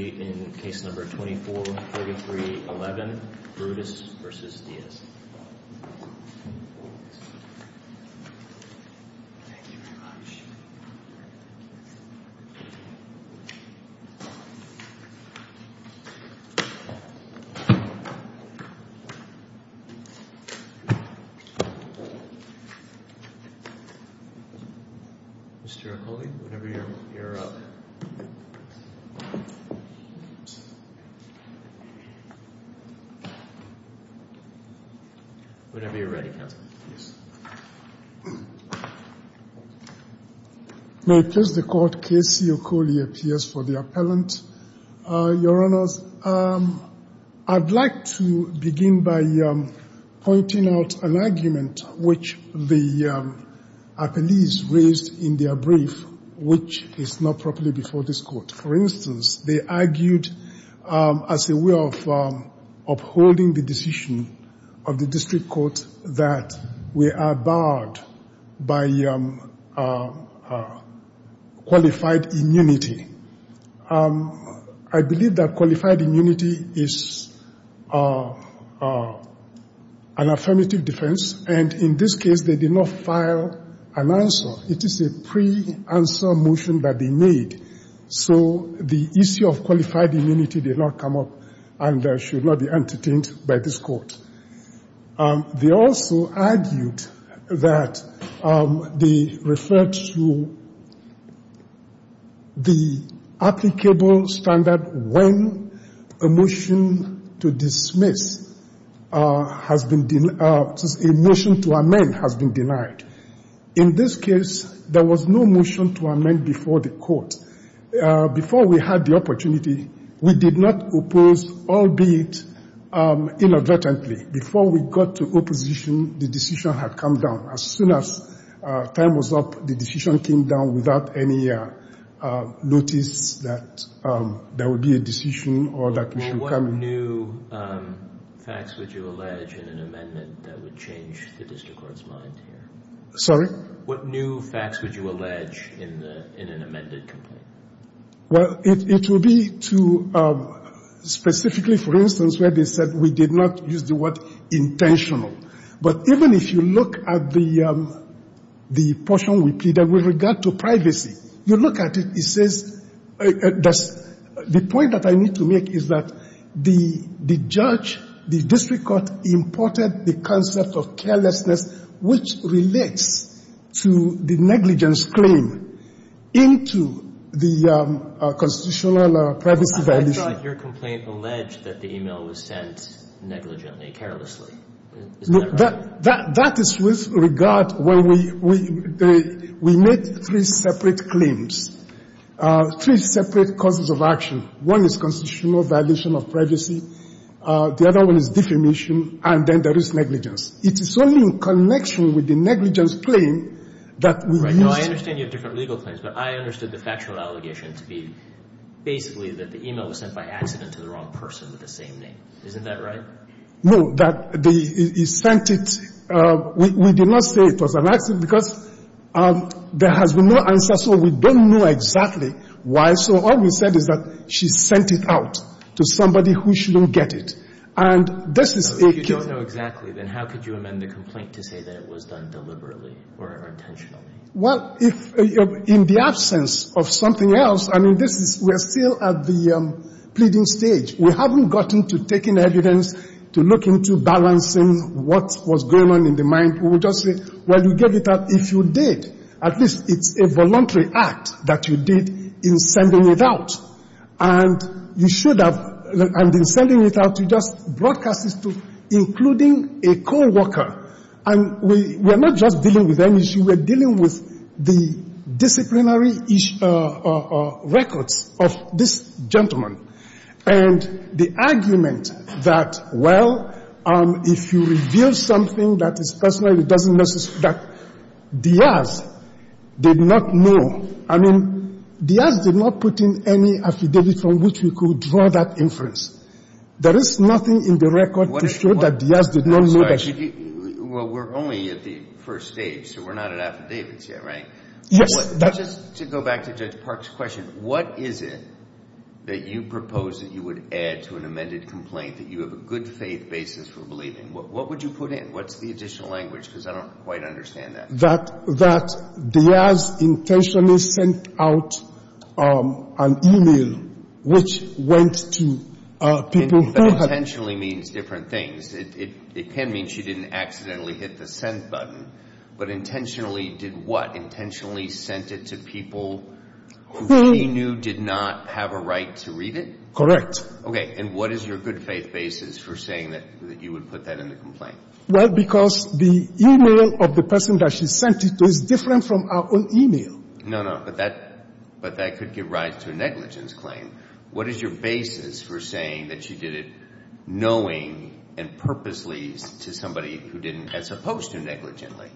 Thank you very much. Mr. Ruccoli, whenever you're up. Whenever you're ready, counsel. I'd like to begin by pointing out an argument which the appellees raised in their brief, which is not properly before this court. For instance, they argued as a way of holding the decision of the district court that we are barred by qualified immunity. I believe that qualified immunity is an affirmative defense, and in this case they did not file an answer. It is a pre-answer motion that they made, so the issue of qualified immunity did not come up and should not be entertained by this court. They also argued that they referred to the applicable standard when a motion to dismiss has been, a motion to amend has been denied. In this case, there was no motion to amend before the court. Before we had the opportunity, we did not oppose, albeit inadvertently. Before we got to opposition, the decision had come down. As soon as time was up, the decision came down without any notice that there would be a decision or that we should come in. What new facts would you allege in an amendment that would change the district court's mind here? Sorry? What new facts would you allege in an amended complaint? Well, it would be to specifically, for instance, where they said we did not use the word intentional. But even if you look at the portion repeated with regard to privacy, you look at it, it says, the point that I need to make is that the judge, the district court, imported the concept of carelessness, which relates to the negligence claim, into the constitutional privacy violation. But your complaint alleged that the e-mail was sent negligently, carelessly. Isn't that correct? That is with regard when we made three separate claims, three separate causes of action. One is constitutional violation of privacy. The other one is defamation. And then there is negligence. It is only in connection with the negligence claim that we used. I understand you have different legal claims, but I understood the factual allegation to be basically that the e-mail was sent by accident to the wrong person with the same name. Isn't that right? No. That they sent it. We did not say it was an accident because there has been no answer, so we don't know exactly why. So all we said is that she sent it out to somebody who shouldn't get it. And this is a case of... If you don't know exactly, then how could you amend the complaint to say that it was done deliberately or intentionally? Well, in the absence of something else, I mean, we are still at the pleading stage. We haven't gotten to taking evidence to look into balancing what was going on in the mind. We will just say, well, you get it out if you did. At least it's a voluntary act that you did in sending it out. And you should have. And in sending it out, you just broadcast this to including a co-worker. And we are not just dealing with any issue. We are dealing with the disciplinary records of this gentleman. And the argument that, well, if you reveal something that is personal, it doesn't necessarily... that Diaz did not know. I mean, Diaz did not put in any affidavit from which we could draw that inference. There is nothing in the record to show that Diaz did not know that she... Well, we're only at the first stage, so we're not at affidavits yet, right? Yes. Just to go back to Judge Park's question, what is it that you propose that you would add to an amended complaint that you have a good faith basis for believing? What would you put in? What's the additional language? Because I don't quite understand that. That Diaz intentionally sent out an e-mail which went to people who had... Intentionally means different things. It can mean she didn't accidentally hit the send button. But intentionally did what? Intentionally sent it to people who she knew did not have a right to read it? Correct. Okay. And what is your good faith basis for saying that you would put that in the complaint? Well, because the e-mail of the person that she sent it to is different from our own e-mail. No, no. But that could give rise to a negligence claim. What is your basis for saying that she did it knowing and purposely to somebody who didn't, as opposed to negligently?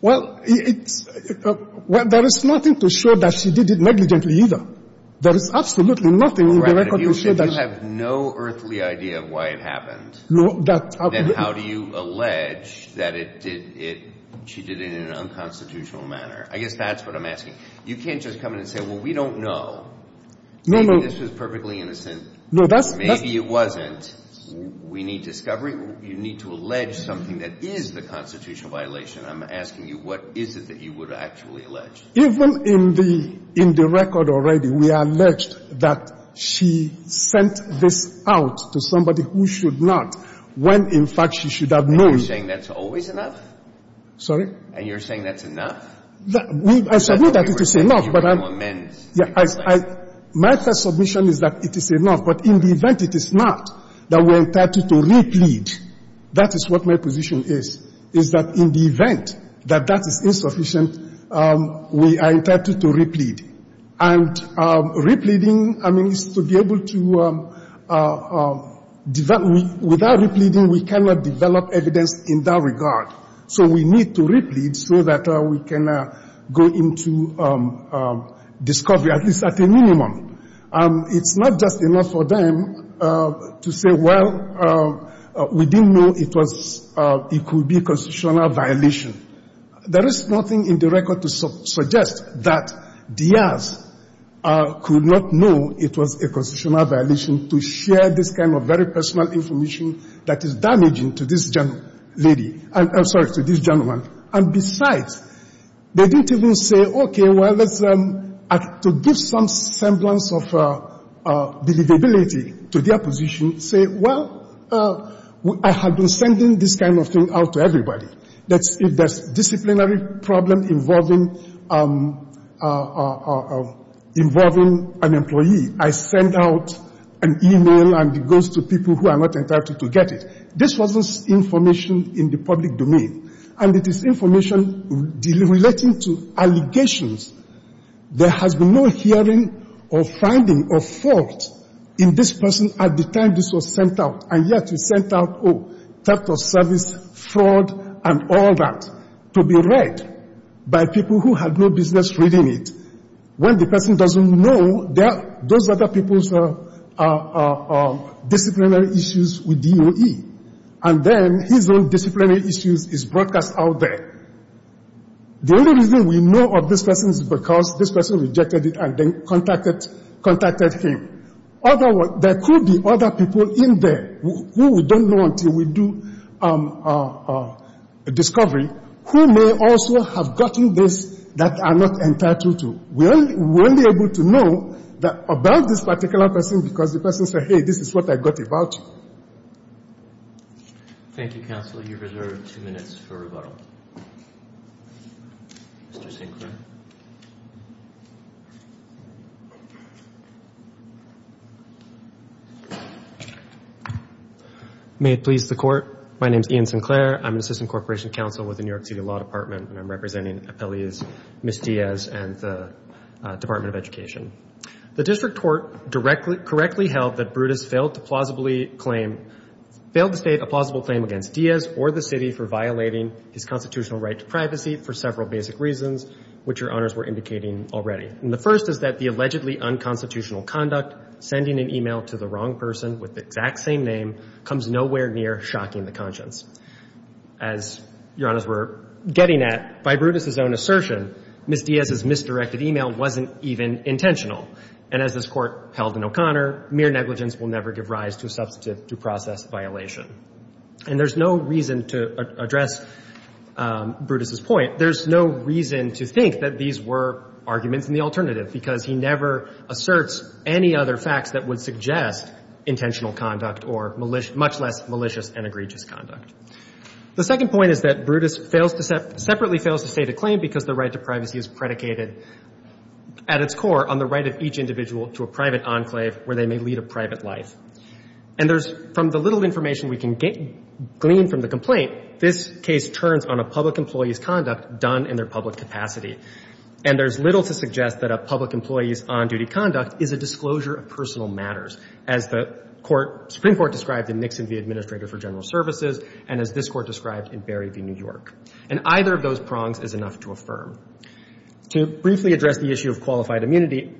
Well, there is nothing to show that she did it negligently either. There is absolutely nothing in the record to show that she... If you have no earthly idea of why it happened... No, that's how it happened. ...then how do you allege that she did it in an unconstitutional manner? I guess that's what I'm asking. You can't just come in and say, well, we don't know. No, no. Maybe this was perfectly innocent. No, that's... Maybe it wasn't. We need discovery. You need to allege something that is the constitutional violation. I'm asking you, what is it that you would actually allege? Even in the record already, we allege that she sent this out to somebody who should not when, in fact, she should have known. And you're saying that's always enough? Sorry? And you're saying that's enough? I should know that it is enough, but I'm... You don't amend. Yeah. My first submission is that it is enough, but in the event it is not, that we are entitled to replead. That is what my position is, is that in the event that that is insufficient, we are entitled to replead. And repleading, I mean, is to be able to develop. Without repleading, we cannot develop evidence in that regard. So we need to replead so that we can go into discovery, at least at a minimum. It's not just enough for them to say, well, we didn't know it could be a constitutional violation. There is nothing in the record to suggest that Diaz could not know it was a constitutional violation to share this kind of very personal information that is damaging to this lady. I'm sorry, to this gentleman. And besides, they didn't even say, okay, well, to give some semblance of believability to their position, say, well, I have been sending this kind of thing out to everybody. If there's a disciplinary problem involving an employee, I send out an e-mail and it goes to people who are not entitled to get it. This wasn't information in the public domain. And it is information relating to allegations. There has been no hearing or finding of fault in this person at the time this was sent out. And yet you sent out, oh, theft of service, fraud, and all that to be read by people who had no business reading it. When the person doesn't know, those are the people's disciplinary issues with DOE. And then his own disciplinary issues is broadcast out there. The only reason we know of this person is because this person rejected it and then contacted him. There could be other people in there who we don't know until we do a discovery who may also have gotten this that are not entitled to. We're only able to know about this particular person because the person said, hey, this is what I got about you. Thank you, Counselor. You're reserved two minutes for rebuttal. Mr. Sinclair. May it please the Court, my name is Ian Sinclair. I'm an assistant corporation counsel with the New York City Law Department, and I'm representing appellees Ms. Diaz and the Department of Education. The district court correctly held that Brutus failed to state a plausible claim against Diaz or the city for violating his constitutional right to privacy for several basic reasons, which your Honors were indicating already. And the first is that the allegedly unconstitutional conduct, sending an email to the wrong person with the exact same name, comes nowhere near shocking the conscience. As your Honors were getting at, by Brutus's own assertion, Ms. Diaz's misdirected email wasn't even intentional. And as this Court held in O'Connor, mere negligence will never give rise to a substantive due process violation. And there's no reason to address Brutus's point. There's no reason to think that these were arguments in the alternative, because he never asserts any other facts that would suggest intentional conduct or much less malicious and egregious conduct. The second point is that Brutus fails to separately fails to state a claim because the right to privacy is predicated at its core on the right of each individual to a private enclave where they may lead a private life. And there's, from the little information we can glean from the complaint, this case turns on a public employee's conduct done in their public capacity. And there's little to suggest that a public employee's on-duty conduct is a disclosure of personal matters, as the Supreme Court described in Nixon v. Administrator for General Services and as this Court described in Berry v. New York. And either of those prongs is enough to affirm. To briefly address the issue of qualified immunity,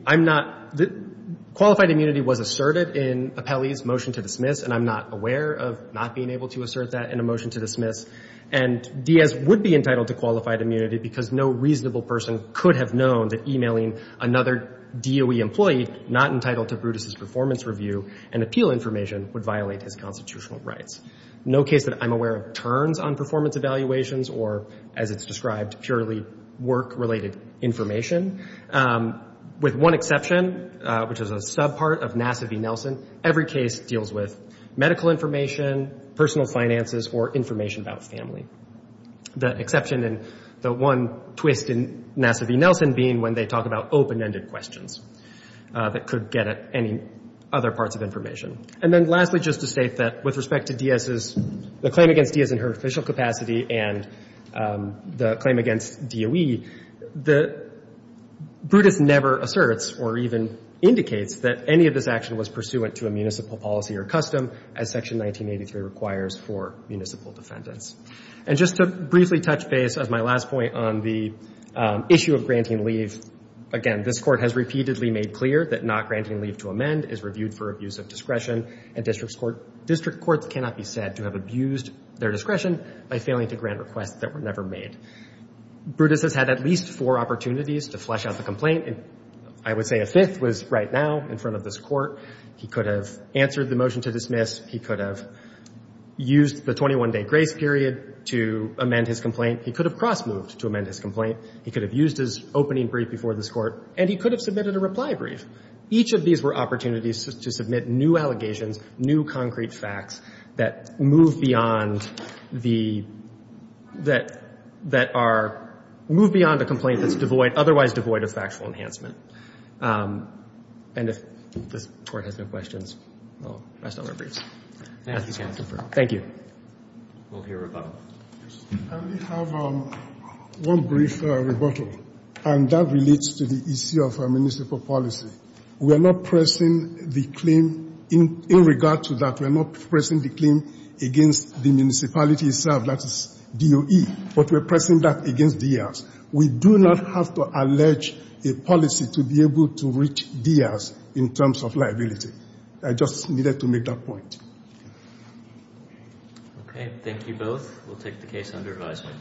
qualified immunity was asserted in Apelli's motion to dismiss. And I'm not aware of not being able to assert that in a motion to dismiss. And Diaz would be entitled to qualified immunity because no reasonable person could have known that emailing another DOE employee not entitled to Brutus's performance review and appeal information would violate his constitutional rights. No case that I'm aware of turns on performance evaluations or, as it's described, purely work-related information. With one exception, which is a subpart of Nassivy-Nelson, every case deals with medical information, personal finances, or information about family. The exception and the one twist in Nassivy-Nelson being when they talk about open-ended questions that could get at any other parts of information. And then lastly, just to state that with respect to Diaz's, the claim against Diaz in her official capacity and the claim against DOE, the, Brutus never asserts or even indicates that any of this action was pursuant to a municipal policy or custom as Section 1983 requires for municipal defendants. And just to briefly touch base as my last point on the issue of granting leave, again, this Court has repeatedly made clear that not granting leave to amend is reviewed for abuse of discretion, and district courts cannot be said to have abused their discretion by failing to grant requests that were never made. Brutus has had at least four opportunities to flesh out the complaint. I would say a fifth was right now in front of this Court. He could have answered the motion to dismiss. He could have used the 21-day grace period to amend his complaint. He could have cross-moved to amend his complaint. He could have used his opening brief before this Court, and he could have submitted a reply brief. Each of these were opportunities to submit new allegations, new concrete facts that move beyond the — that are — move beyond a complaint that's devoid — otherwise devoid of factual enhancement. And if this Court has no questions, we'll rest our briefs. Thank you. We'll hear a rebuttal. I only have one brief rebuttal, and that relates to the issue of municipal policy. We are not pressing the claim in regard to that. We are not pressing the claim against the municipality itself, that is, DOE, but we are pressing that against D.S. We do not have to allege a policy to be able to reach D.S. in terms of liability. I just needed to make that point. Okay. Thank you both. We'll take the case under advisement.